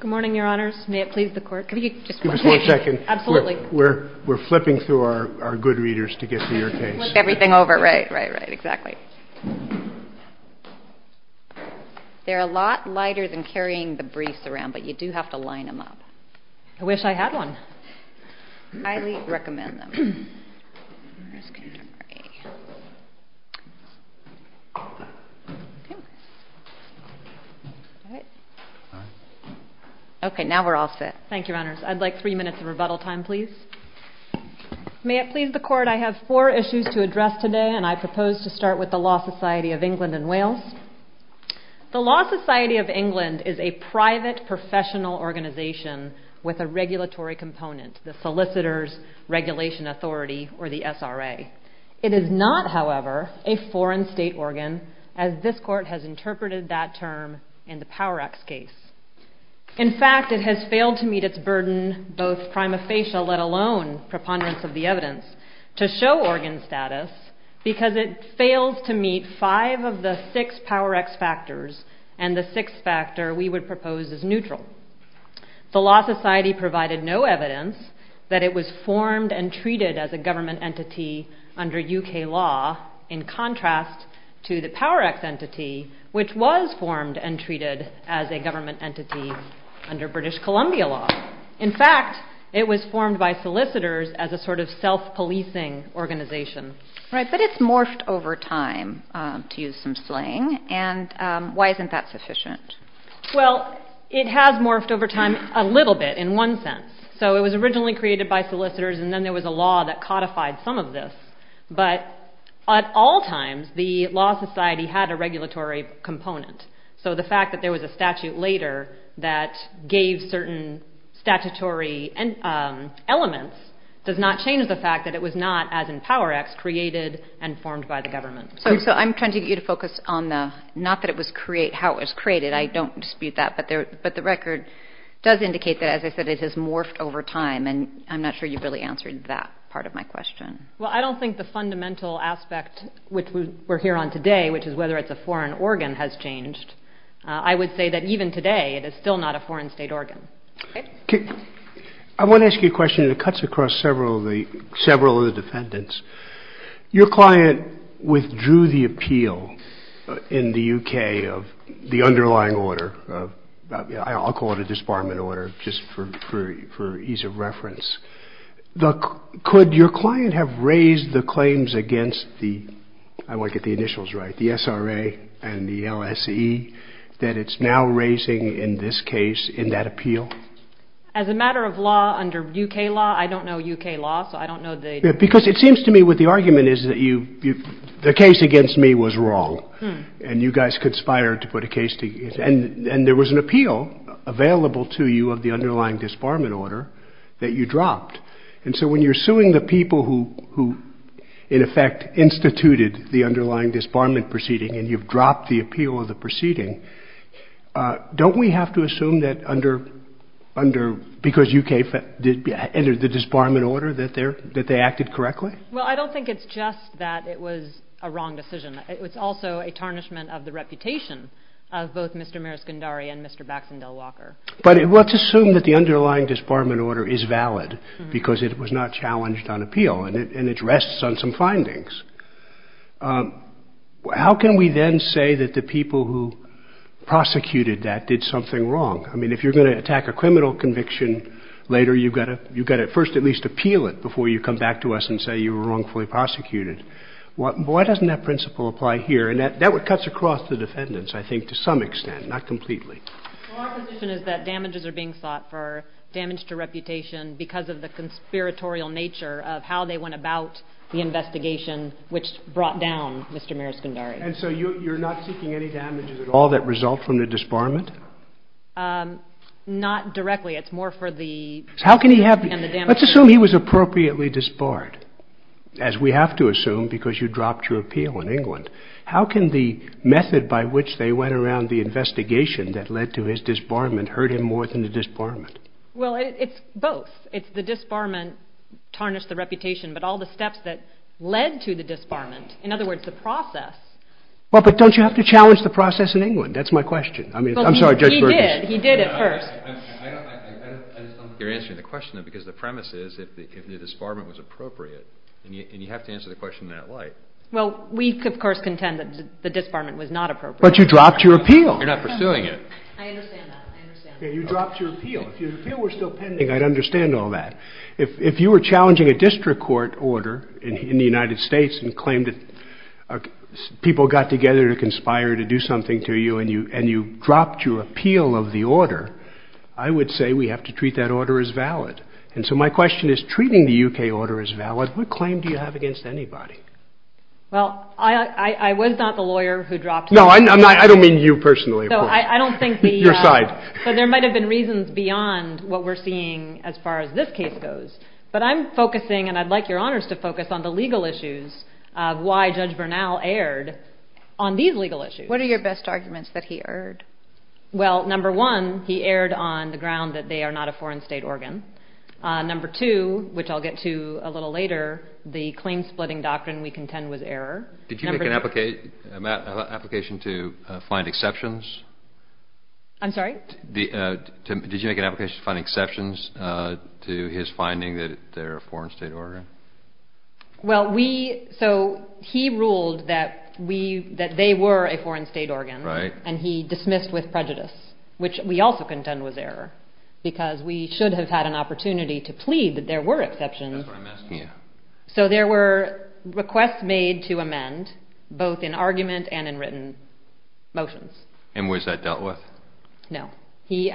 Good morning, your honors. May it please the court. Give us one second. We're flipping through our good readers to get to your case. Flip everything over, right, right, right, exactly. They're a lot lighter than carrying the briefs around, but you do have to line them up. I wish I had one. I highly recommend them. Okay, now we're all set. Thank you, your honors. I'd like three minutes of rebuttal time, please. May it please the court. I have four issues to address today, and I propose to start with the Law Society of England and Wales. The Law Society of England is a private professional organization with a regulatory component, the Solicitor's Regulation Authority, or the SRA. It is not, however, a foreign state organ, as this court has interpreted that term in the PowerX case. In fact, it has failed to meet its burden, both prima facie, let alone preponderance of the evidence, to show organ status because it failed to meet five of the six PowerX factors and the sixth factor we would propose is neutral. The Law Society provided no evidence that it was formed and treated as a government entity under U.K. law in contrast to the PowerX entity, which was formed and treated as a government entity under British Columbia law. In fact, it was formed by solicitors as a sort of self-policing organization. Right, but it's morphed over time, to use some slang, and why isn't that sufficient? Well, it has morphed over time a little bit in one sense. So it was originally created by solicitors, and then there was a law that codified some of this. But at all times, the Law Society had a regulatory component. So the fact that there was a statute later that gave certain statutory elements does not change the fact that it was not, as in PowerX, created and formed by the government. So I'm trying to get you to focus on the not that it was created, how it was created. I don't dispute that, but the record does indicate that, as I said, it has morphed over time, and I'm not sure you've really answered that part of my question. Well, I don't think the fundamental aspect, which we're here on today, which is whether it's a foreign organ, has changed. I would say that even today, it is still not a foreign state organ. I want to ask you a question, and it cuts across several of the defendants. Your client withdrew the appeal in the U.K. of the underlying order. I'll call it a disbarment order, just for ease of reference. Could your client have raised the claims against the, I want to get the initials right, the SRA and the LSE, that it's now raising, in this case, in that appeal? As a matter of law, under U.K. law, I don't know U.K. law, so I don't know they do. Because it seems to me what the argument is that the case against me was wrong, and you guys conspired to put a case against me. And there was an appeal available to you of the underlying disbarment order that you dropped. And so when you're suing the people who, in effect, instituted the underlying disbarment proceeding and you've dropped the appeal of the proceeding, don't we have to assume that under, because U.K. entered the disbarment order, that they acted correctly? Well, I don't think it's just that it was a wrong decision. It's also a tarnishment of the reputation of both Mr. Meris Gundari and Mr. Baxander Walker. But let's assume that the underlying disbarment order is valid because it was not challenged on appeal and it rests on some findings. How can we then say that the people who prosecuted that did something wrong? I mean, if you're going to attack a criminal conviction later, you've got to first at least appeal it before you come back to us and say you were wrongfully prosecuted. Why doesn't that principle apply here? And that cuts across the defendants, I think, to some extent, not completely. Well, our position is that damages are being sought for damage to reputation because of the conspiratorial nature of how they went about the investigation which brought down Mr. Meris Gundari. And so you're not seeking any damages at all that result from the disbarment? Not directly. It's more for the damage. Let's assume he was appropriately disbarred, as we have to assume because you dropped your appeal in England. How can the method by which they went around the investigation that led to his disbarment hurt him more than the disbarment? Well, it's both. It's the disbarment tarnished the reputation, but all the steps that led to the disbarment, in other words, the process. Well, but don't you have to challenge the process in England? That's my question. I mean, I'm sorry, Judge Berger. He did. He did at first. I just don't think you're answering the question, though, because the premise is if the disbarment was appropriate and you have to answer the question in that light. Well, we, of course, contend that the disbarment was not appropriate. But you dropped your appeal. You're not pursuing it. I understand that. I understand that. You dropped your appeal. If your appeal were still pending, I'd understand all that. If you were challenging a district court order in the United States and claimed that people got together to conspire to do something to you and you dropped your appeal of the order, I would say we have to treat that order as valid. And so my question is, treating the U.K. order as valid, what claim do you have against anybody? Well, I was not the lawyer who dropped my appeal. No, I don't mean you personally. I don't think the... Your side. But there might have been reasons beyond what we're seeing as far as this case goes. But I'm focusing, and I'd like your honors to focus, on the legal issues of why Judge Bernal erred on these legal issues. What are your best arguments that he erred? Well, number one, he erred on the ground that they are not a foreign state organ. Number two, which I'll get to a little later, the claim-splitting doctrine we contend was error. Did you make an application to find exceptions? I'm sorry? Did you make an application to find exceptions to his finding that they're a foreign state organ? Well, we... So he ruled that they were a foreign state organ. Right. And he dismissed with prejudice, which we also contend was error, because we should have had an opportunity to plead that there were exceptions. That's what I'm asking. Yeah. So there were requests made to amend, both in argument and in written motions. And was that dealt with? No. Did he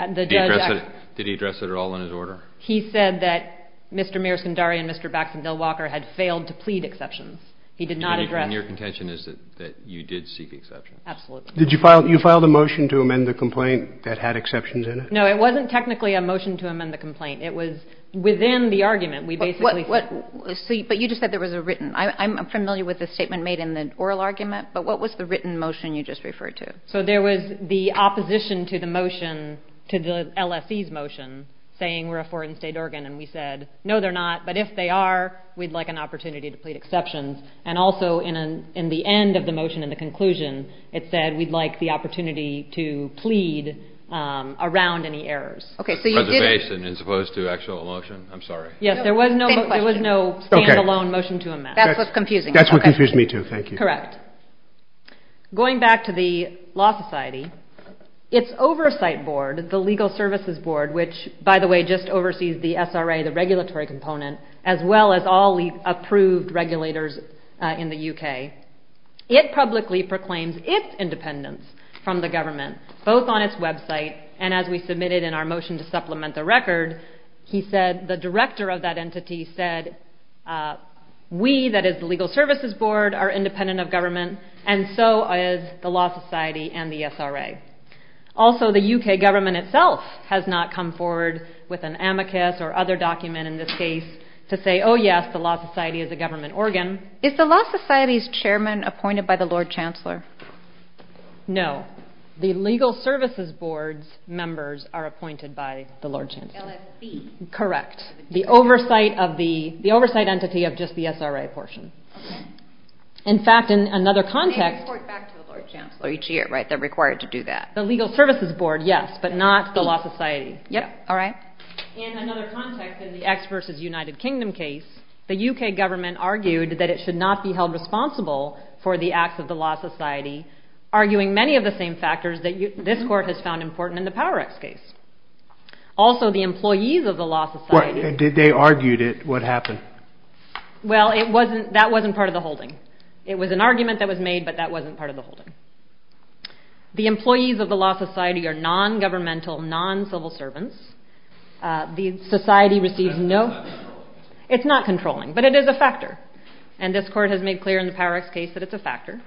address it at all in his order? He said that Mr. Mears-Sundari and Mr. Baxton-Dillwalker had failed to plead exceptions. He did not address... And your contention is that you did seek exceptions? Absolutely. Did you file the motion to amend the complaint that had exceptions in it? No, it wasn't technically a motion to amend the complaint. It was within the argument. We basically... But you just said there was a written. I'm familiar with the statement made in the oral argument, but what was the written motion you just referred to? So there was the opposition to the motion, to the LSE's motion, saying we're a foreign state organ. And we said, no, they're not, but if they are, we'd like an opportunity to plead exceptions. And also, in the end of the motion, in the conclusion, it said we'd like the opportunity to plead around any errors. Okay, so you did... As opposed to an actual motion? I'm sorry. Yes, there was no stand-alone motion to amend. That's what's confusing. That's what confused me, too. Thank you. Correct. Going back to the Law Society, its oversight board, the Legal Services Board, which, by the way, just oversees the SRA, the regulatory component, as well as all the approved regulators in the UK, it publicly proclaims its independence from the government, both on its website, and as we submitted in our motion to supplement the record, he said, the director of that entity said, we, that is the Legal Services Board, are independent of government, and so is the Law Society and the SRA. Also, the UK government itself has not come forward with an amicus or other document, in this case, to say, oh, yes, the Law Society is a government organ. Is the Law Society's chairman appointed by the Lord Chancellor? No. The Legal Services Board's members are appointed by the Lord Chancellor. LSC. Correct. The oversight entity of just the SRA portion. Okay. In fact, in another context... The Legal Services Board, yes, but not the Law Society. Yep. All right. In another context, in the X versus United Kingdom case, the UK government argued that it should not be held responsible for the acts of the Law Society, arguing many of the same factors that this court has found important in the PowerX case. Also, the employees of the Law Society... What? They argued it. What happened? Well, it wasn't, that wasn't part of the holding. It was an argument that was made, but that wasn't part of the holding. The employees of the Law Society are non-governmental, non-civil servants. The society receives no... It's not controlling. It's not controlling, but it is a factor, and this court has made clear in the PowerX case that it's a factor.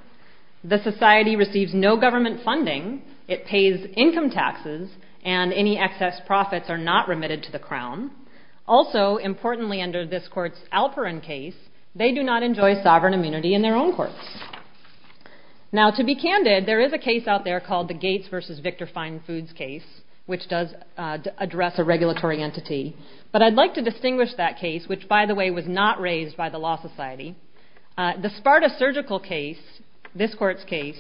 The society receives no government funding. It pays income taxes, and any excess profits are not remitted to the Crown. Also, importantly under this court's Alperin case, they do not enjoy sovereign immunity in their own courts. Now, to be candid, there is a case out there called the Gates versus Victor Fine Foods case, which does address a regulatory entity, but I'd like to distinguish that case, which, by the way, was not raised by the Law Society. The Sparta Surgical case, this court's case,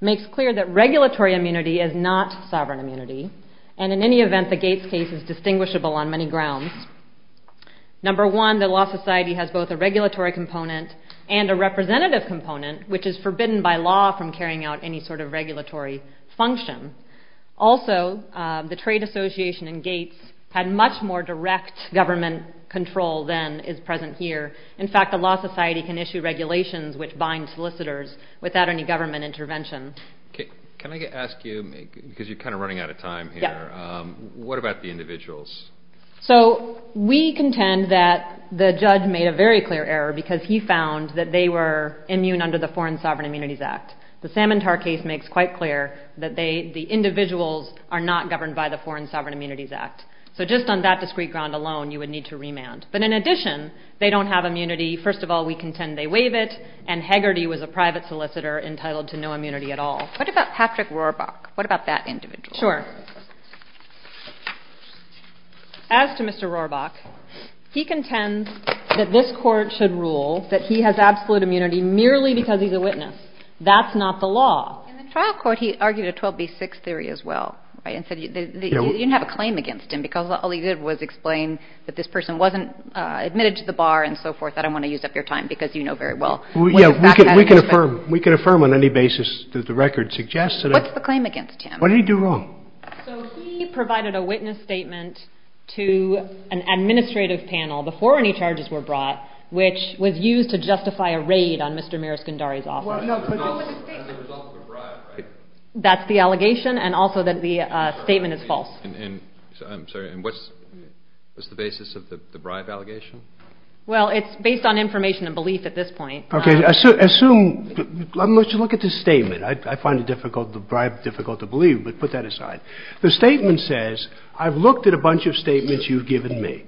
makes clear that regulatory immunity is not sovereign immunity, and in any event, the Gates case is distinguishable on many grounds. Number one, the Law Society has both a regulatory component and a representative component, which is forbidden by law from carrying out any sort of regulatory function. Also, the trade association in Gates had much more direct government control than is present here. In fact, the Law Society can issue regulations which bind solicitors without any government intervention. Can I ask you, because you're kind of running out of time here, what about the individuals? So we contend that the judge made a very clear error because he found that they were immune under the Foreign Sovereign Immunities Act. The Salmon Tar case makes quite clear that the individuals are not governed by the Foreign Sovereign Immunities Act. So just on that discrete ground alone, you would need to remand. The first of all, we contend they waive it, and Hegarty was a private solicitor entitled to no immunity at all. What about Patrick Rohrbach? What about that individual? Sure. As to Mr. Rohrbach, he contends that this Court should rule that he has absolute immunity merely because he's a witness. That's not the law. In the trial court, he argued a 12B6 theory as well, right, and said you didn't have a claim against him because all he did was explain that this person wasn't admitted to the bar and so forth. I don't want to use up your time because you know very well what the facts are. We can affirm on any basis that the record suggests. What's the claim against him? What did he do wrong? So he provided a witness statement to an administrative panel before any charges were brought, which was used to justify a raid on Mr. Miros Gundari's office. As a result of a bribe, right? That's the allegation, and also that the statement is false. I'm sorry. And what's the basis of the bribe allegation? Well, it's based on information and belief at this point. Okay. Let's look at the statement. I find the bribe difficult to believe, but put that aside. The statement says, I've looked at a bunch of statements you've given me,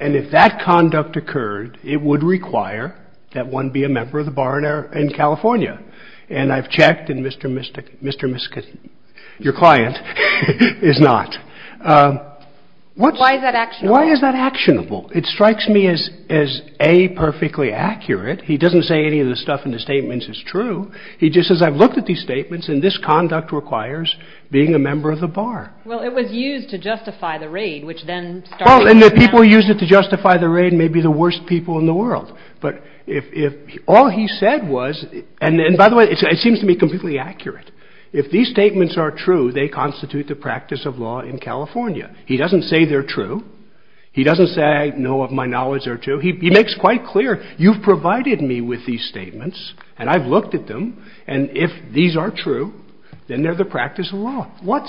and if that conduct occurred, it would require that one be a member of the bar in California. And I've checked, and Mr. Miska, your client, is not. Why is that actionable? Why is that actionable? It strikes me as A, perfectly accurate. He doesn't say any of the stuff in the statements is true. He just says, I've looked at these statements, and this conduct requires being a member of the bar. Well, it was used to justify the raid, which then started to come down. Well, and the people who used it to justify the raid may be the worst people in the world. But if all he said was, and by the way, it seems to me completely accurate. If these statements are true, they constitute the practice of law in California. He doesn't say they're true. He doesn't say, no, of my knowledge, they're true. He makes quite clear, you've provided me with these statements, and I've looked at them, and if these are true, then they're the practice of law. What?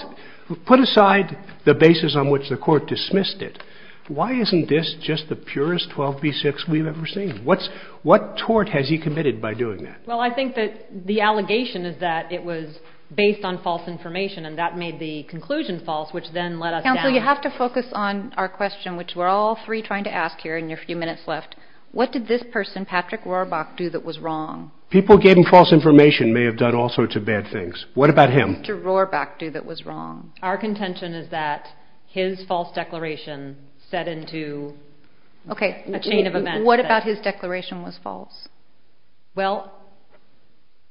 Put aside the basis on which the Court dismissed it. Why isn't this just the purest 12b-6 we've ever seen? What tort has he committed by doing that? Well, I think that the allegation is that it was based on false information, and that made the conclusion false, which then let us down. Counsel, you have to focus on our question, which we're all three trying to ask here in your few minutes left. What did this person, Patrick Rohrbach, do that was wrong? People who gave him false information may have done all sorts of bad things. What about him? What did Mr. Rohrbach do that was wrong? Our contention is that his false declaration set into a chain of events. What about his declaration was false? Well,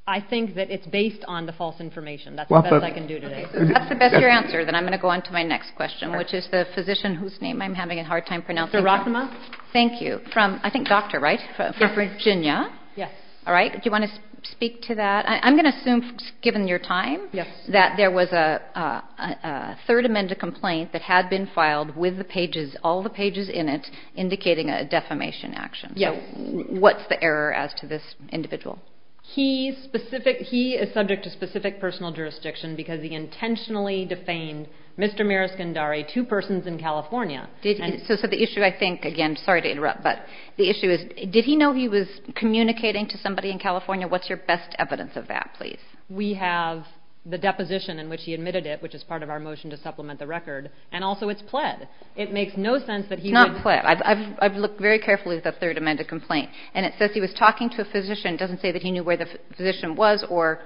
I think that it's based on the false information. That's the best I can do today. That's the best your answer. Then I'm going to go on to my next question, which is the physician whose name I'm having a hard time pronouncing. Dr. Rothman. Thank you. I think doctor, right? Yes. From Virginia. Yes. All right. Do you want to speak to that? I'm going to assume, given your time, that there was a third amendment complaint that had been filed with the pages, all the pages in it, indicating a defamation action. Yes. What's the error as to this individual? He is subject to specific personal jurisdiction because he intentionally defamed Mr. Miroskindari, two persons in California. So the issue, I think, again, sorry to interrupt, but the issue is did he know he was communicating to somebody in California? What's your best evidence of that, please? We have the deposition in which he admitted it, which is part of our motion to supplement the record, and also it's pled. It makes no sense that he would. It's not pled. I've looked very carefully at the third amendment complaint, and it says he was talking to a physician. It doesn't say that he knew where the physician was or,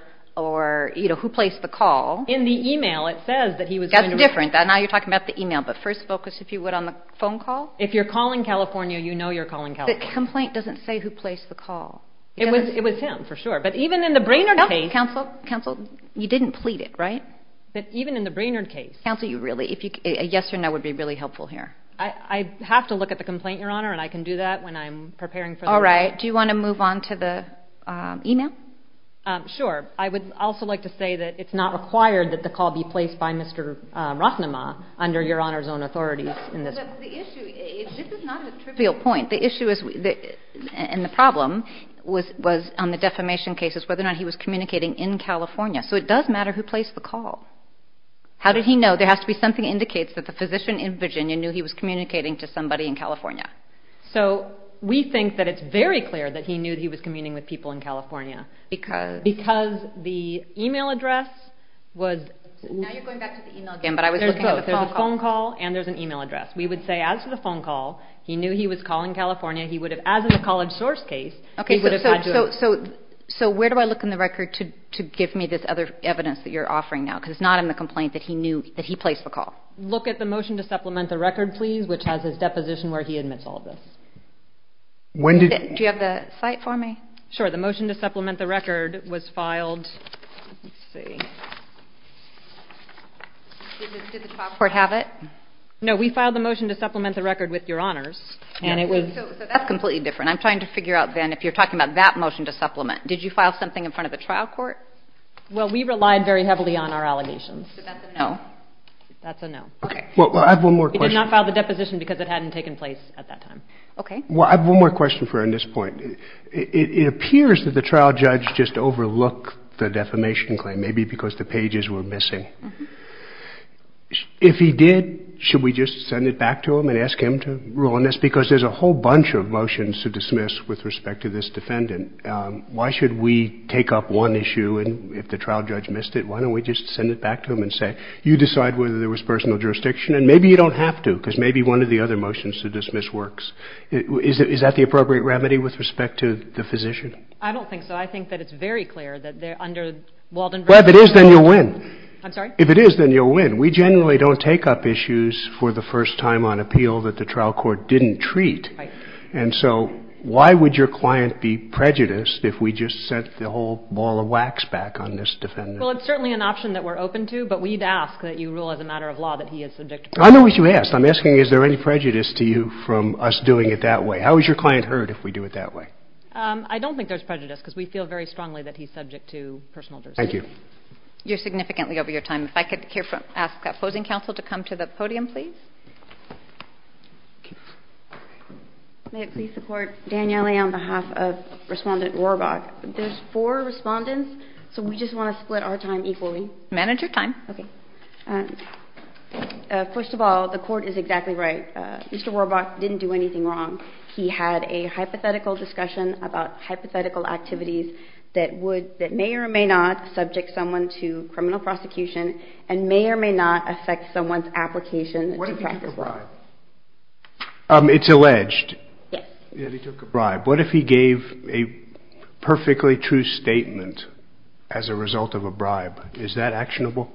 you know, who placed the call. In the email, it says that he was going to. That's different. Now you're talking about the email, but first focus, if you would, on the phone call. If you're calling California, you know you're calling California. The complaint doesn't say who placed the call. It was him, for sure, but even in the Brainerd case. Counsel, counsel, you didn't plead it, right? But even in the Brainerd case. Counsel, you really, a yes or no would be really helpful here. I have to look at the complaint, Your Honor, and I can do that when I'm preparing for the report. All right. Do you want to move on to the email? Sure. I would also like to say that it's not required that the call be placed by Mr. Rothnemaugh under Your Honor's own authorities in this case. But the issue is this is not a trivial point. The issue and the problem was on the defamation cases, whether or not he was communicating in California. So it does matter who placed the call. How did he know? There has to be something that indicates that the physician in Virginia knew he was communicating to somebody in California. So we think that it's very clear that he knew he was communing with people in California. Because? Because the email address was... Now you're going back to the email again, but I was looking at the phone call. There's both. There's a phone call and there's an email address. We would say as to the phone call, he knew he was calling California. He would have, as in the college source case, he would have had to... Okay. So where do I look in the record to give me this other evidence that you're offering now? Because it's not in the complaint that he knew that he placed the call. Look at the motion to supplement the record, please, which has his deposition where he admits all of this. When did... Do you have the site for me? Sure. The motion to supplement the record was filed... Let's see. Did the top court have it? No, we filed the motion to supplement the record with your honors, and it was... So that's completely different. I'm trying to figure out then if you're talking about that motion to supplement. Did you file something in front of the trial court? Well, we relied very heavily on our allegations. So that's a no? That's a no. Okay. Well, I have one more question. We did not file the deposition because it hadn't taken place at that time. Okay. Well, I have one more question for her on this point. It appears that the trial judge just overlooked the defamation claim, maybe because the pages were missing. If he did, should we just send it back to him and ask him to rule on this? Because there's a whole bunch of motions to dismiss with respect to this defendant. Why should we take up one issue, and if the trial judge missed it, why don't we just send it back to him and say, you decide whether there was personal jurisdiction, and maybe you don't have to because maybe one of the other motions to dismiss works. Is that the appropriate remedy with respect to the physician? I don't think so. I think that it's very clear that under Walden... Well, if it is, then you'll win. I'm sorry? If it is, then you'll win. We generally don't take up issues for the first time on appeal that the trial court didn't treat. Right. And so why would your client be prejudiced if we just sent the whole ball of wax back on this defendant? Well, it's certainly an option that we're open to, but we'd ask that you rule as a matter of law that he is subject... I know what you asked. I'm asking is there any prejudice to you from us doing it that way. How is your client heard if we do it that way? I don't think there's prejudice because we feel very strongly that he's subject to personal jurisdiction. Thank you. You're significantly over your time. If I could ask that opposing counsel to come to the podium, please. May it please the Court, Danielle A. on behalf of Respondent Rohrabach. There's four respondents, so we just want to split our time equally. Manage your time. Okay. First of all, the Court is exactly right. Mr. Rohrabach didn't do anything wrong. He had a hypothetical discussion about hypothetical activities that may or may not subject someone to criminal prosecution... and may or may not affect someone's application. What if he took a bribe? It's alleged. Yes. That he took a bribe. What if he gave a perfectly true statement as a result of a bribe? Is that actionable?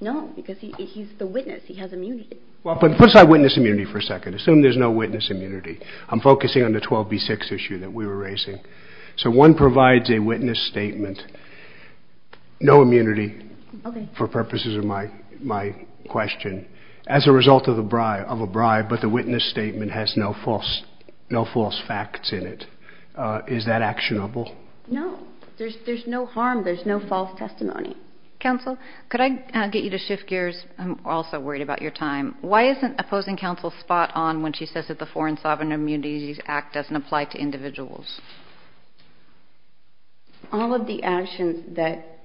No, because he's the witness. He has immunity. Well, put aside witness immunity for a second. Assume there's no witness immunity. I'm focusing on the 12B6 issue that we were raising. So, one provides a witness statement. No immunity for purposes of my question. As a result of a bribe, but the witness statement has no false facts in it. Is that actionable? No. There's no harm. There's no false testimony. Counsel, could I get you to shift gears? I'm also worried about your time. Why isn't opposing counsel spot on when she says that the Foreign Sovereign Immunities Act doesn't apply to individuals? All of the actions that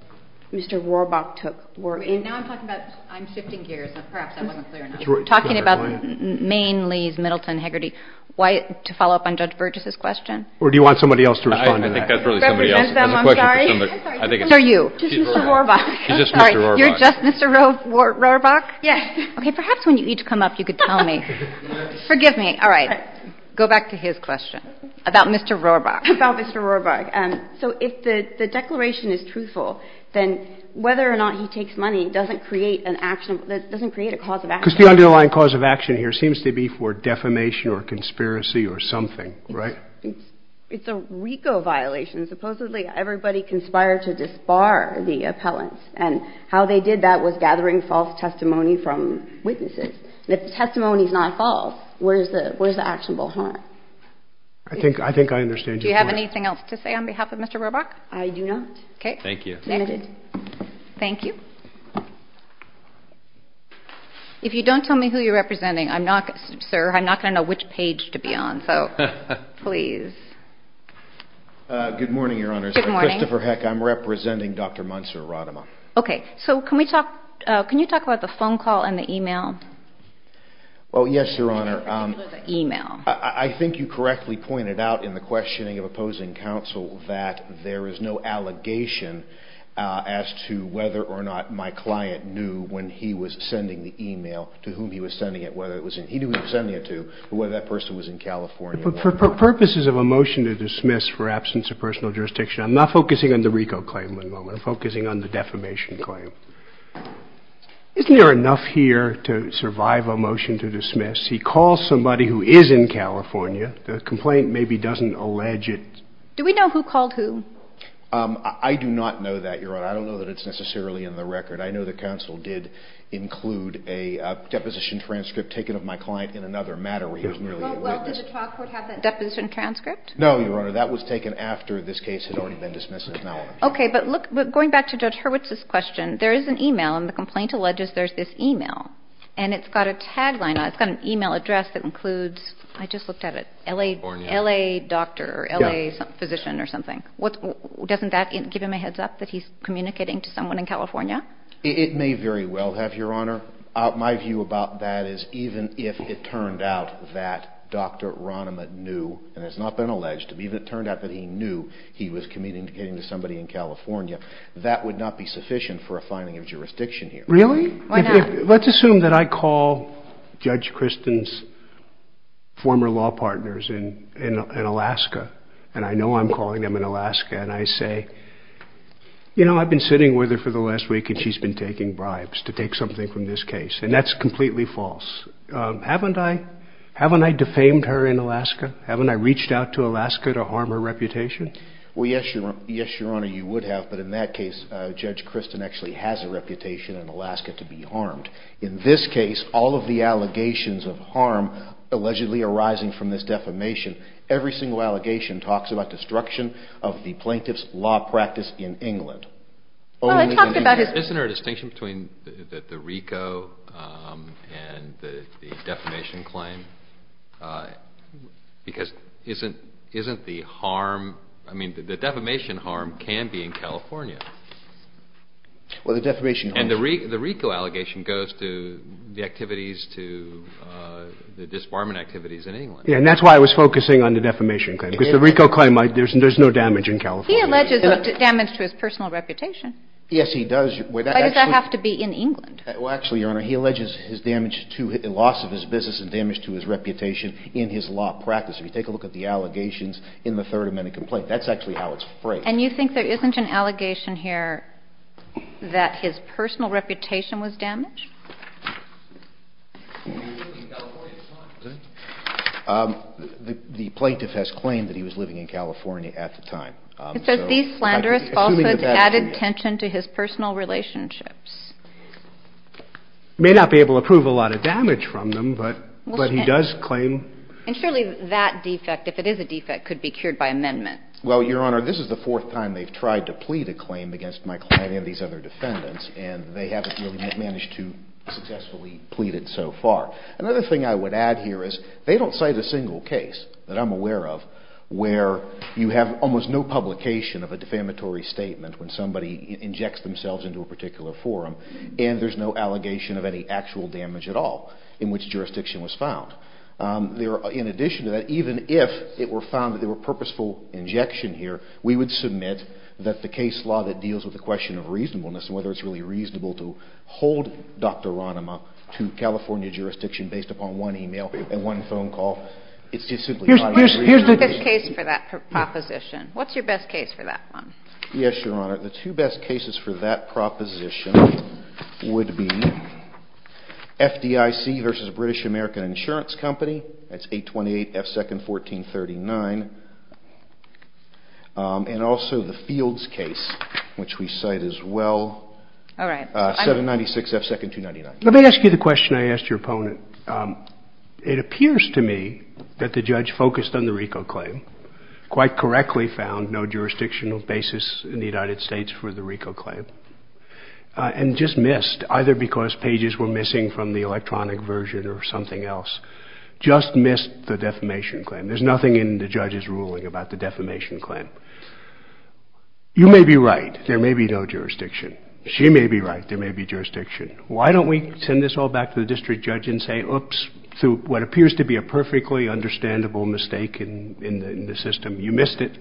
Mr. Rohrbach took were in... Now I'm talking about... I'm shifting gears. Perhaps that wasn't clear enough. We're talking about Maine, Lees, Middleton, Hagerty. To follow up on Judge Burgess' question... Or do you want somebody else to respond to that? I think that's really somebody else. I'm sorry. Who are you? She's Mr. Rohrbach. She's just Mr. Rohrbach. You're just Mr. Rohrbach? Yes. Okay. Perhaps when you each come up, you could tell me. Forgive me. All right. Go back to his question about Mr. Rohrbach. About Mr. Rohrbach. So if the declaration is truthful, then whether or not he takes money doesn't create an action... doesn't create a cause of action. Because the underlying cause of action here seems to be for defamation or conspiracy or something, right? It's a RICO violation. Supposedly, everybody conspired to disbar the appellants. And how they did that was gathering false testimony from witnesses. And if the testimony is not false, where's the actionable harm? I think I understand you. Do you have anything else to say on behalf of Mr. Rohrbach? I do not. Okay. Thank you. Thank you. If you don't tell me who you're representing, I'm not... Sir, I'm not going to know which page to be on. So, please. Good morning, Your Honor. Good morning. I'm Christopher Heck. I'm representing Dr. Munzer-Rodema. Okay. So, can we talk... can you talk about the phone call and the e-mail? Oh, yes, Your Honor. E-mail. I think you correctly pointed out in the questioning of opposing counsel that there is no allegation as to whether or not my client knew when he was sending the e-mail to whom he was sending it, whether it was in... He knew who he was sending it to, but whether that person was in California or not. For purposes of a motion to dismiss for absence of personal jurisdiction, I'm not focusing on the RICO claim at the moment. I'm focusing on the defamation claim. Isn't there enough here to survive a motion to dismiss? He calls somebody who is in California. The complaint maybe doesn't allege it. Do we know who called whom? I do not know that, Your Honor. I don't know that it's necessarily in the record. I know the counsel did include a deposition transcript taken of my client in another matter where he was merely... Well, did the talk court have that deposition transcript? No, Your Honor. That was taken after this case had already been dismissed. It's not on the record. Okay. But going back to Judge Hurwitz's question, there is an e-mail, and the complaint alleges there's this e-mail. And it's got a tagline on it. It's got an e-mail address that includes... I just looked at it. LA doctor or LA physician or something. Doesn't that give him a heads up that he's communicating to someone in California? It may very well have, Your Honor. My view about that is even if it turned out that Dr. Rahnemann knew, and it's not been alleged, even if it turned out that he knew he was communicating to somebody in California, that would not be sufficient for a finding of jurisdiction here. Really? Why not? Let's assume that I call Judge Kristen's former law partners in Alaska, and I know I'm calling them in Alaska, and I say, you know, I've been sitting with her for the last week, and she's been taking bribes to take something from this case. And that's completely false. Haven't I defamed her in Alaska? Haven't I reached out to Alaska to harm her reputation? Well, yes, Your Honor, you would have. But in that case, Judge Kristen actually has a reputation in Alaska to be harmed. In this case, all of the allegations of harm allegedly arising from this defamation, every single allegation talks about destruction of the plaintiff's law practice in England. Isn't there a distinction between the RICO and the defamation claim? Because isn't the harm, I mean, the defamation harm can be in California. Well, the defamation. And the RICO allegation goes to the activities to the disbarment activities in England. And that's why I was focusing on the defamation claim, because the RICO claim, there's no damage in California. He alleges damage to his personal reputation. Yes, he does. Why does that have to be in England? Well, actually, Your Honor, he alleges his damage to the loss of his business and damage to his reputation in his law practice. If you take a look at the allegations in the Third Amendment complaint, that's actually how it's phrased. And you think there isn't an allegation here that his personal reputation was damaged? The plaintiff has claimed that he was living in California at the time. He says these slanderous falsehoods added tension to his personal relationships. May not be able to prove a lot of damage from them, but he does claim. And surely that defect, if it is a defect, could be cured by amendment. Well, Your Honor, this is the fourth time they've tried to plead a claim against my client and these other defendants, and they haven't really managed to successfully plead it so far. Another thing I would add here is they don't cite a single case that I'm aware of where you have almost no publication of a defamatory statement when somebody injects themselves into a particular forum, and there's no allegation of any actual damage at all in which jurisdiction was found. In addition to that, even if it were found that there were purposeful injection here, we would submit that the case law that deals with the question of reasonableness and whether it's really reasonable to hold Dr. Ranema to California jurisdiction based upon one e-mail and one phone call, it's just simply not reasonable. What's your best case for that proposition? What's your best case for that one? Yes, Your Honor. The two best cases for that proposition would be FDIC v. British American Insurance Company. That's 828 F. 2nd 1439. And also the Fields case, which we cite as well, 796 F. 2nd 299. Let me ask you the question I asked your opponent. It appears to me that the judge focused on the RICO claim, quite correctly found no jurisdictional basis in the United States for the RICO claim, and just missed, either because pages were missing from the electronic version or something else, just missed the defamation claim. There's nothing in the judge's ruling about the defamation claim. You may be right. There may be no jurisdiction. She may be right. There may be jurisdiction. Why don't we send this all back to the district judge and say, oops, through what appears to be a perfectly understandable mistake in the system, you missed it.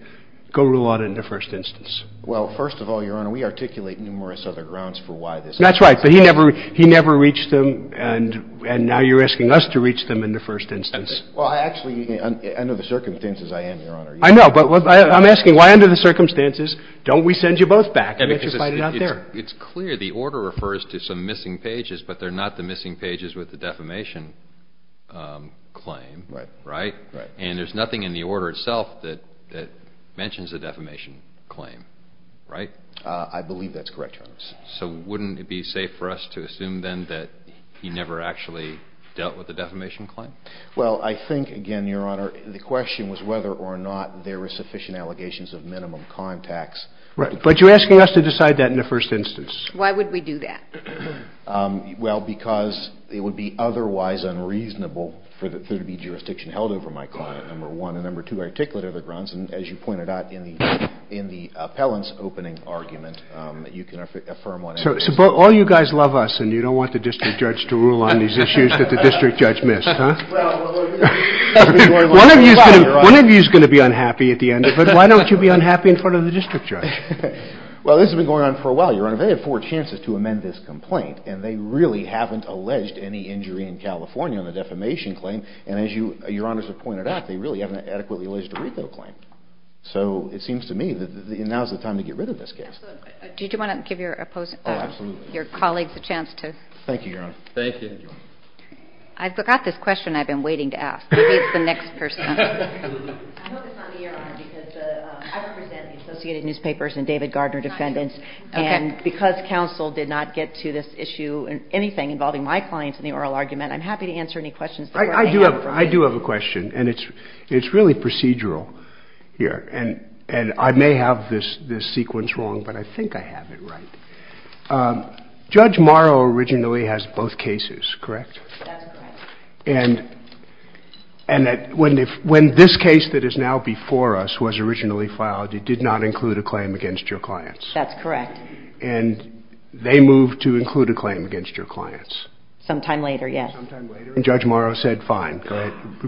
Go rule out it in the first instance. Well, first of all, Your Honor, we articulate numerous other grounds for why this happened. That's right. But he never reached them, and now you're asking us to reach them in the first instance. Well, actually, under the circumstances, I am, Your Honor. I know. But I'm asking, why under the circumstances don't we send you both back and let you fight it out there? It's clear the order refers to some missing pages, but they're not the missing pages with the defamation claim. Right. Right? Right. And there's nothing in the order itself that mentions the defamation claim, right? I believe that's correct, Your Honor. So wouldn't it be safe for us to assume then that he never actually dealt with the defamation claim? Well, I think, again, Your Honor, the question was whether or not there were sufficient allegations of minimum crime tax. Right. But you're asking us to decide that in the first instance. Why would we do that? Well, because it would be otherwise unreasonable for there to be jurisdiction held over my client, number one. And, number two, I articulate other grounds. And as you pointed out in the appellant's opening argument, you can affirm what I just said. So all you guys love us, and you don't want the district judge to rule on these issues that the district judge missed, huh? One of you is going to be unhappy at the end of it. Why don't you be unhappy in front of the district judge? Your Honor, they have four chances to amend this complaint, and they really haven't alleged any injury in California on the defamation claim. And as Your Honors have pointed out, they really haven't adequately alleged a RICO claim. So it seems to me that now is the time to get rid of this case. Did you want to give your colleagues a chance to? Thank you, Your Honor. Thank you. I forgot this question I've been waiting to ask. Maybe it's the next person. I hope it's not me, Your Honor, because I represent the Associated Newspapers and David Gardner defendants. And because counsel did not get to this issue, anything involving my clients in the oral argument, I'm happy to answer any questions. I do have a question, and it's really procedural here. And I may have this sequence wrong, but I think I have it right. Judge Morrow originally has both cases, correct? That's correct. And when this case that is now before us was originally filed, it did not include a claim against your clients. That's correct. And they moved to include a claim against your clients. Sometime later, yes. Sometime later, and Judge Morrow said fine,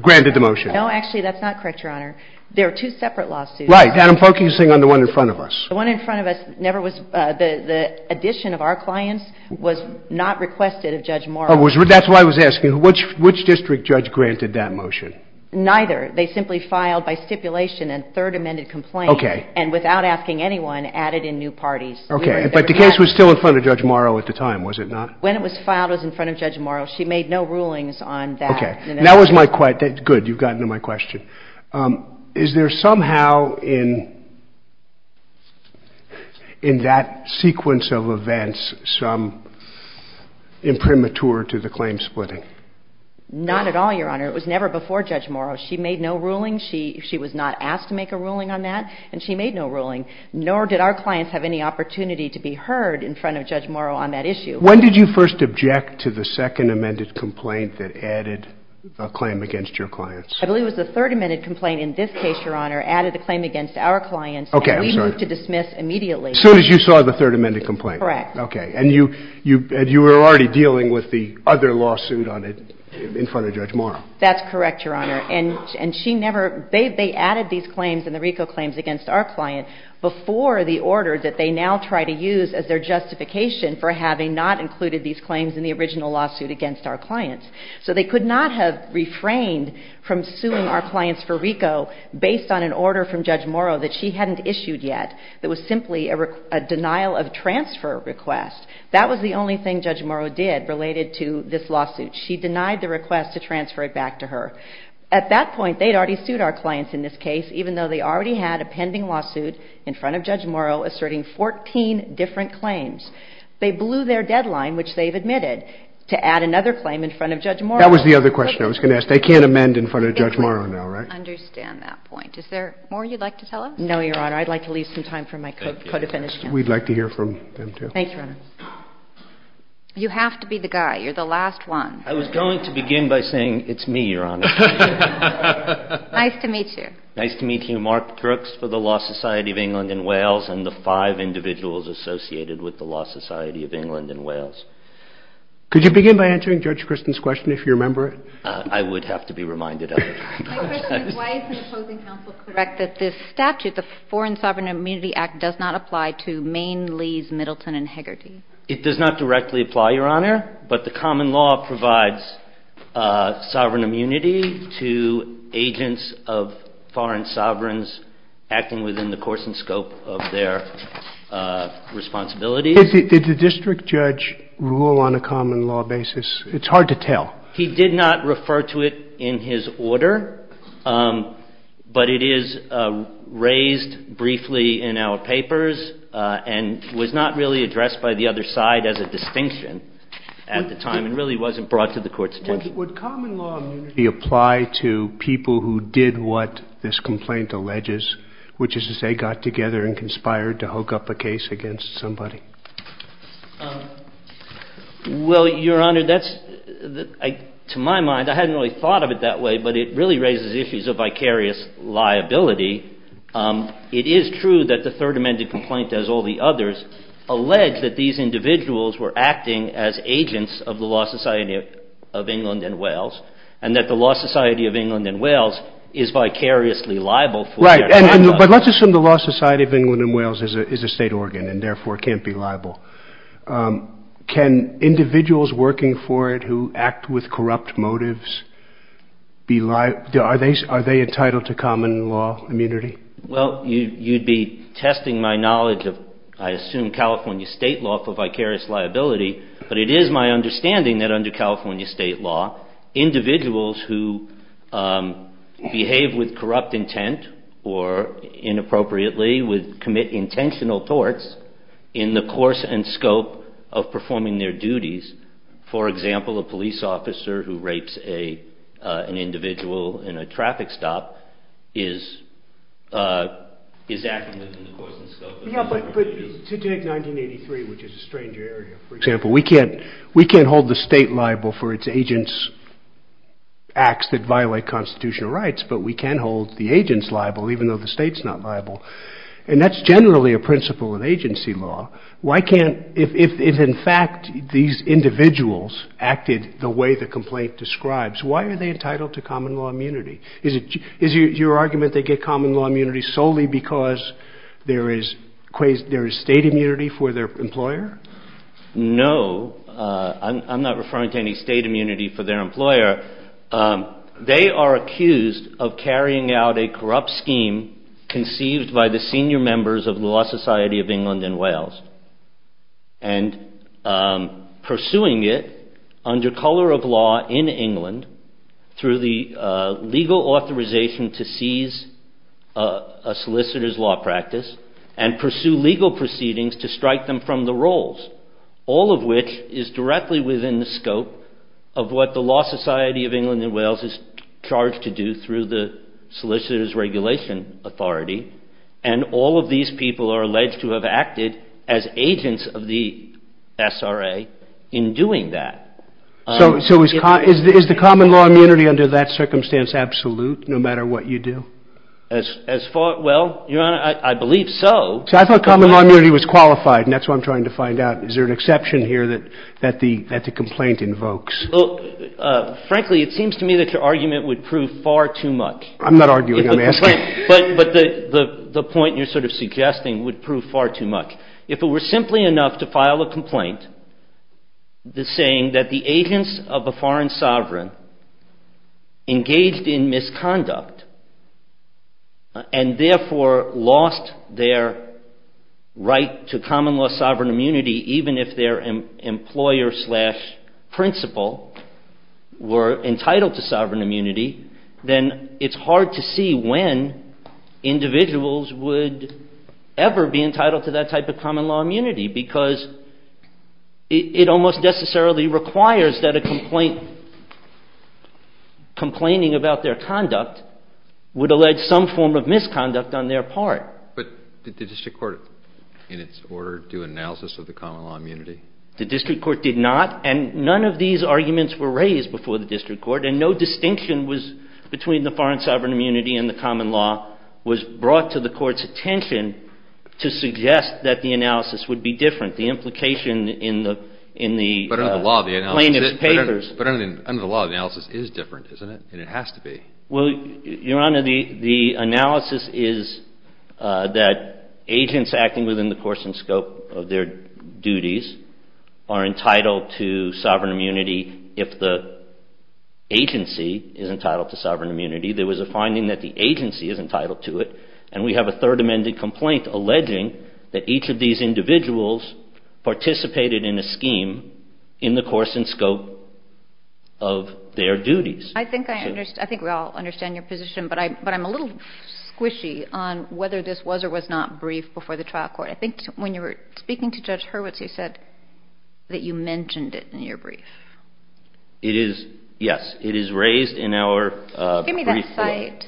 granted the motion. No, actually, that's not correct, Your Honor. There are two separate lawsuits. Right, and I'm focusing on the one in front of us. The one in front of us never was the addition of our clients was not requested of Judge Morrow. That's what I was asking. Which district judge granted that motion? Neither. They simply filed by stipulation a third amended complaint. Okay. And without asking anyone, added in new parties. Okay. But the case was still in front of Judge Morrow at the time, was it not? When it was filed, it was in front of Judge Morrow. She made no rulings on that. Okay. That was my question. Good, you've gotten to my question. Is there somehow in that sequence of events some imprimatur to the claim splitting? Not at all, Your Honor. It was never before Judge Morrow. She made no rulings. She was not asked to make a ruling on that, and she made no ruling. Nor did our clients have any opportunity to be heard in front of Judge Morrow on that issue. When did you first object to the second amended complaint that added a claim against your clients? I believe it was the third amended complaint in this case, Your Honor, added a claim against our clients. Okay, I'm sorry. And we moved to dismiss immediately. As soon as you saw the third amended complaint? Correct. Okay. And you were already dealing with the other lawsuit in front of Judge Morrow? That's correct, Your Honor. And she never, they added these claims and the RICO claims against our client before the order that they now try to use as their justification for having not included these claims in the original lawsuit against our clients. So they could not have refrained from suing our clients for RICO based on an order from Judge Morrow that she hadn't issued yet that was simply a denial of transfer request. That was the only thing Judge Morrow did related to this lawsuit. She denied the request to transfer it back to her. At that point, they'd already sued our clients in this case, even though they already had a pending lawsuit in front of Judge Morrow asserting 14 different claims. They blew their deadline, which they've admitted, to add another claim in front of Judge Morrow. That was the other question I was going to ask. They can't amend in front of Judge Morrow now, right? I understand that point. Is there more you'd like to tell us? No, Your Honor. I'd like to leave some time for my co-defendants. We'd like to hear from them, too. Thank you, Your Honor. You have to be the guy. You're the last one. I was going to begin by saying it's me, Your Honor. Nice to meet you. Nice to meet you. Mark Crooks for the Law Society of England and Wales and the five individuals associated with the Law Society of England and Wales. Could you begin by answering Judge Kristen's question, if you remember it? I would have to be reminded of it. My question is, why isn't the opposing counsel correct that this statute, the Foreign Sovereign Immunity Act, does not apply to Maine, Lees, Middleton, and Hagerty? It does not directly apply, Your Honor, but the common law provides sovereign immunity to agents of foreign sovereigns acting within the course and scope of their responsibilities. Did the district judge rule on a common law basis? He did not refer to it in his order, but it is raised briefly in our papers and was not really addressed by the other side as a distinction at the time and really wasn't brought to the court's attention. Would common law immunity apply to people who did what this complaint alleges, which is to say got together and conspired to hook up a case against somebody? Well, Your Honor, to my mind, I hadn't really thought of it that way, but it really raises issues of vicarious liability. It is true that the Third Amendment complaint, as all the others, allege that these individuals were acting as agents of the Law Society of England and Wales and that the Law Society of England and Wales is vicariously liable for their conduct. But let's assume the Law Society of England and Wales is a state organ and therefore can't be liable. Can individuals working for it who act with corrupt motives be liable? Are they entitled to common law immunity? Well, you'd be testing my knowledge of, I assume, California state law for vicarious liability, but it is my understanding that under California state law, individuals who behave with corrupt intent or inappropriately would commit intentional torts in the course and scope of performing their duties. For example, a police officer who rapes an individual in a traffic stop is acting within the course and scope of performing his duties. To take 1983, which is a stranger area, for example, we can't hold the state liable for its agents' acts that violate constitutional rights, but we can hold the agents liable even though the state's not liable. And that's generally a principle of agency law. If, in fact, these individuals acted the way the complaint describes, why are they entitled to common law immunity? Is your argument they get common law immunity solely because there is state immunity for their employer? No, I'm not referring to any state immunity for their employer. They are accused of carrying out a corrupt scheme conceived by the senior members of the Law Society of England and Wales and pursuing it under color of law in England through the legal authorization to seize a solicitor's law practice and pursue legal proceedings to strike them from the rolls, all of which is directly within the scope of what the Law Society of England and Wales is charged to do through the solicitor's regulation authority. And all of these people are alleged to have acted as agents of the SRA in doing that. So is the common law immunity under that circumstance absolute, no matter what you do? Well, Your Honor, I believe so. See, I thought common law immunity was qualified, and that's what I'm trying to find out. Is there an exception here that the complaint invokes? Frankly, it seems to me that your argument would prove far too much. I'm not arguing. I'm asking. But the point you're sort of suggesting would prove far too much. If it were simply enough to file a complaint saying that the agents of a foreign sovereign engaged in misconduct and therefore lost their right to common law sovereign immunity even if their employer-slash-principal were entitled to sovereign immunity, then it's hard to see when individuals would ever be entitled to that type of common law immunity because it almost necessarily requires that a complaint complaining about their conduct would allege some form of misconduct on their part. But did the district court in its order do analysis of the common law immunity? The district court did not. And none of these arguments were raised before the district court. And no distinction between the foreign sovereign immunity and the common law was brought to the court's attention to suggest that the analysis would be different, the implication in the plaintiff's papers. But under the law, the analysis is different, isn't it? And it has to be. Well, Your Honor, the analysis is that agents acting within the course and scope of their duties are entitled to sovereign immunity if the agency is entitled to sovereign immunity. There was a finding that the agency is entitled to it. And we have a third amended complaint alleging that each of these individuals participated in a scheme in the course and scope of their duties. I think I understand. I think we all understand your position. But I'm a little squishy on whether this was or was not briefed before the trial court. I think when you were speaking to Judge Hurwitz, you said that you mentioned it in your brief. It is, yes. It is raised in our brief. Give me that cite.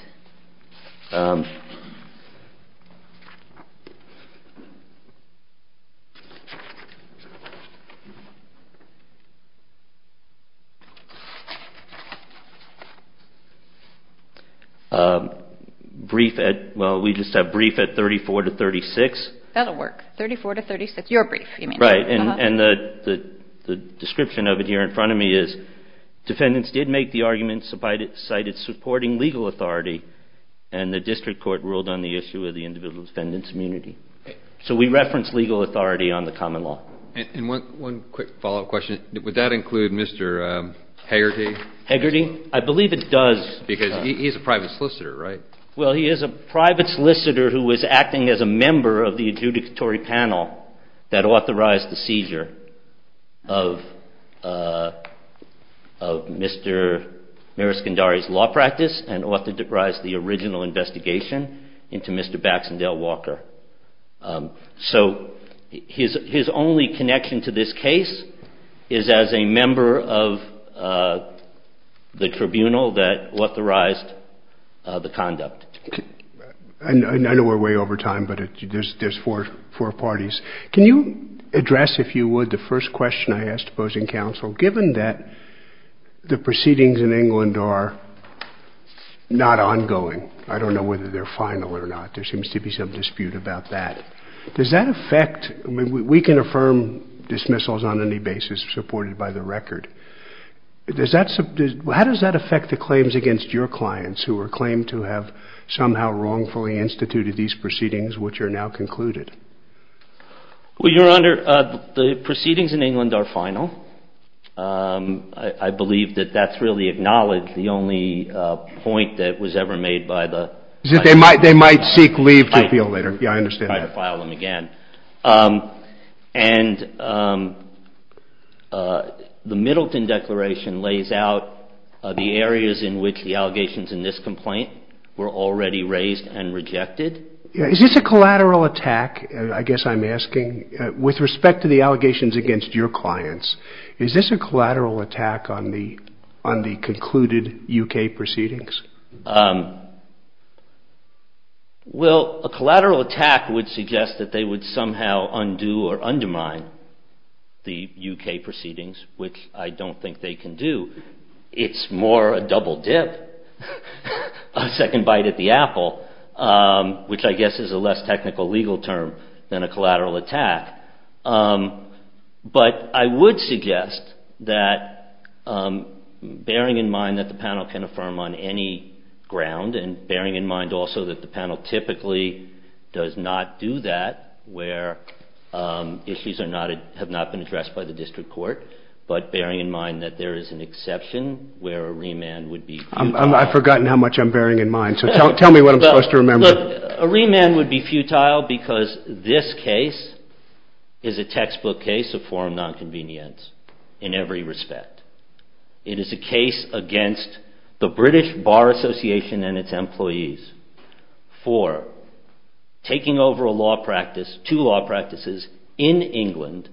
Brief at, well, we just have brief at 34 to 36. That will work. 34 to 36. Your brief, you mean. Right. And the description of it here in front of me is, defendants did make the arguments cited supporting legal authority, and the district court ruled on the issue of the individual defendant's immunity. So we reference legal authority on the common law. And one quick follow-up question. Would that include Mr. Hegarty? Hegarty? I believe it does. Because he's a private solicitor, right? Well, he is a private solicitor who is acting as a member of the adjudicatory panel that authorized the seizure of Mr. Mariscandari's law practice and authorized the original investigation into Mr. Baxendale Walker. So his only connection to this case is as a member of the tribunal that authorized the conduct. I know we're way over time, but there's four parties. Can you address, if you would, the first question I asked opposing counsel? Given that the proceedings in England are not ongoing, I don't know whether they're final or not. There seems to be some dispute about that. Does that affect, I mean, we can affirm dismissals on any basis supported by the record. How does that affect the claims against your clients who are claimed to have somehow wrongfully instituted these proceedings which are now concluded? Well, Your Honor, the proceedings in England are final. I believe that that's really acknowledged. The only point that was ever made by the — Is that they might seek leave to appeal later. I understand that. I'd file them again. And the Middleton Declaration lays out the areas in which the allegations in this complaint were already raised and rejected. Is this a collateral attack, I guess I'm asking, with respect to the allegations against your clients? Is this a collateral attack on the concluded U.K. proceedings? Well, a collateral attack would suggest that they would somehow undo or undermine the U.K. proceedings, which I don't think they can do. It's more a double dip, a second bite at the apple, which I guess is a less technical legal term than a collateral attack. But I would suggest that, bearing in mind that the panel can affirm on any ground and bearing in mind also that the panel typically does not do that where issues have not been addressed by the district court, but bearing in mind that there is an exception where a remand would be futile. I've forgotten how much I'm bearing in mind, so tell me what I'm supposed to remember. Look, a remand would be futile because this case is a textbook case of foreign non-convenience in every respect. It is a case against the British Bar Association and its employees for taking over a law practice, two law practices in England,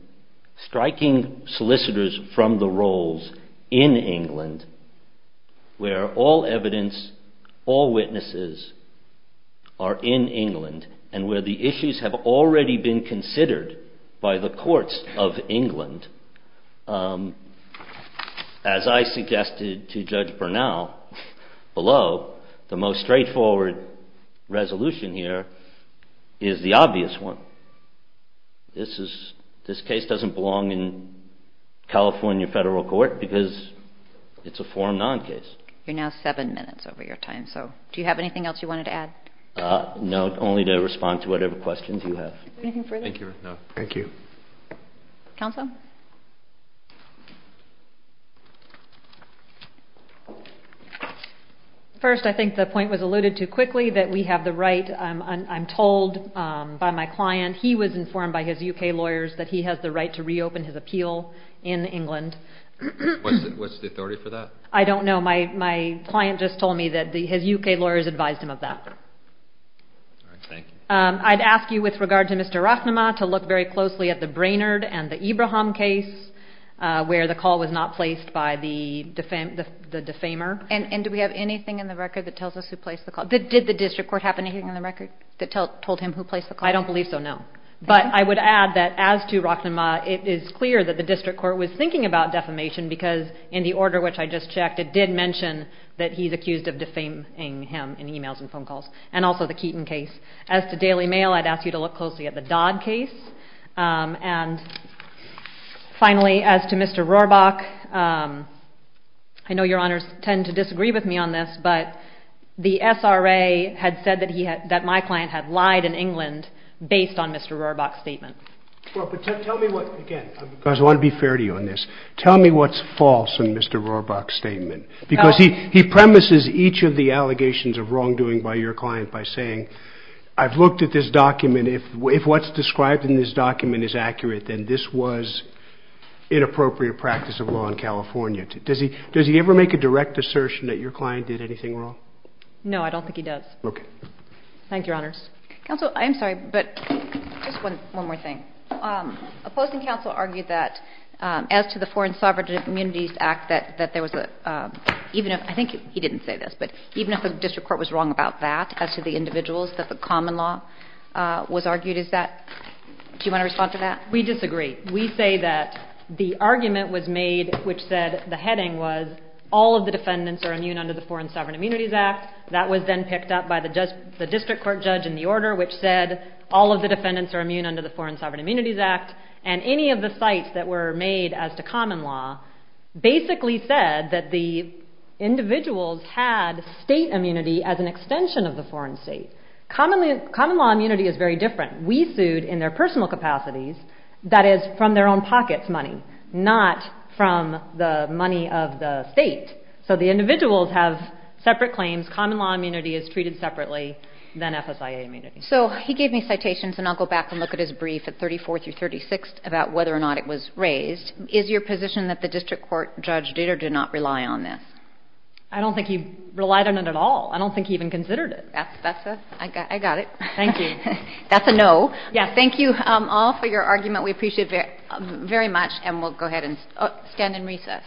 striking solicitors from the rolls in England, where all evidence, all witnesses are in England and where the issues have already been considered by the courts of England. As I suggested to Judge Bernal below, the most straightforward resolution here is the obvious one. This case doesn't belong in California Federal Court because it's a foreign non-case. You're now seven minutes over your time, so do you have anything else you wanted to add? No, only to respond to whatever questions you have. Anything further? No. Thank you. Counsel? First, I think the point was alluded to quickly that we have the right, I'm told by my client, he was informed by his U.K. lawyers that he has the right to reopen his appeal in England. What's the authority for that? I don't know. My client just told me that his U.K. lawyers advised him of that. All right. Thank you. I'd ask you with regard to Mr. Rochnema to look very closely at the Brainerd and the Ibrahim case where the call was not placed by the defamer. And do we have anything in the record that tells us who placed the call? Did the district court have anything in the record that told him who placed the call? I don't believe so, no. But I would add that as to Rochnema, it is clear that the district court was thinking about defamation because in the order which I just checked, it did mention that he's accused of defaming him in emails and phone calls. And also the Keaton case. As to Daily Mail, I'd ask you to look closely at the Dodd case. And finally, as to Mr. Rohrbach, I know your honors tend to disagree with me on this, but the SRA had said that my client had lied in England based on Mr. Rohrbach's statement. Tell me what's false in Mr. Rohrbach's statement because he premises each of the allegations of wrongdoing by your client by saying, I've looked at this document, if what's described in this document is accurate, then this was inappropriate practice of law in California. Does he ever make a direct assertion that your client did anything wrong? No, I don't think he does. Thank you, your honors. Counsel, I'm sorry, but just one more thing. Opposing counsel argued that as to the Foreign Sovereign Immunities Act, that there was a, even if, I think he didn't say this, but even if the district court was wrong about that, as to the individuals, that the common law was argued, is that, do you want to respond to that? We disagree. We say that the argument was made, which said, the heading was, all of the defendants are immune under the Foreign Sovereign Immunities Act. That was then picked up by the district court judge in the order, which said, all of the defendants are immune under the Foreign Sovereign Immunities Act. And any of the sites that were made as to common law basically said that the individuals had state immunity as an extension of the foreign state. Common law immunity is very different. We sued in their personal capacities, that is, from their own pockets money, not from the money of the state. So the individuals have separate claims. Common law immunity is treated separately than FSIA immunity. So he gave me citations, and I'll go back and look at his brief at 34th through 36th about whether or not it was raised. Is your position that the district court judge did or did not rely on this? I don't think he relied on it at all. I don't think he even considered it. I got it. Thank you. That's a no. Thank you all for your argument. We appreciate it very much, and we'll go ahead and stand in recess.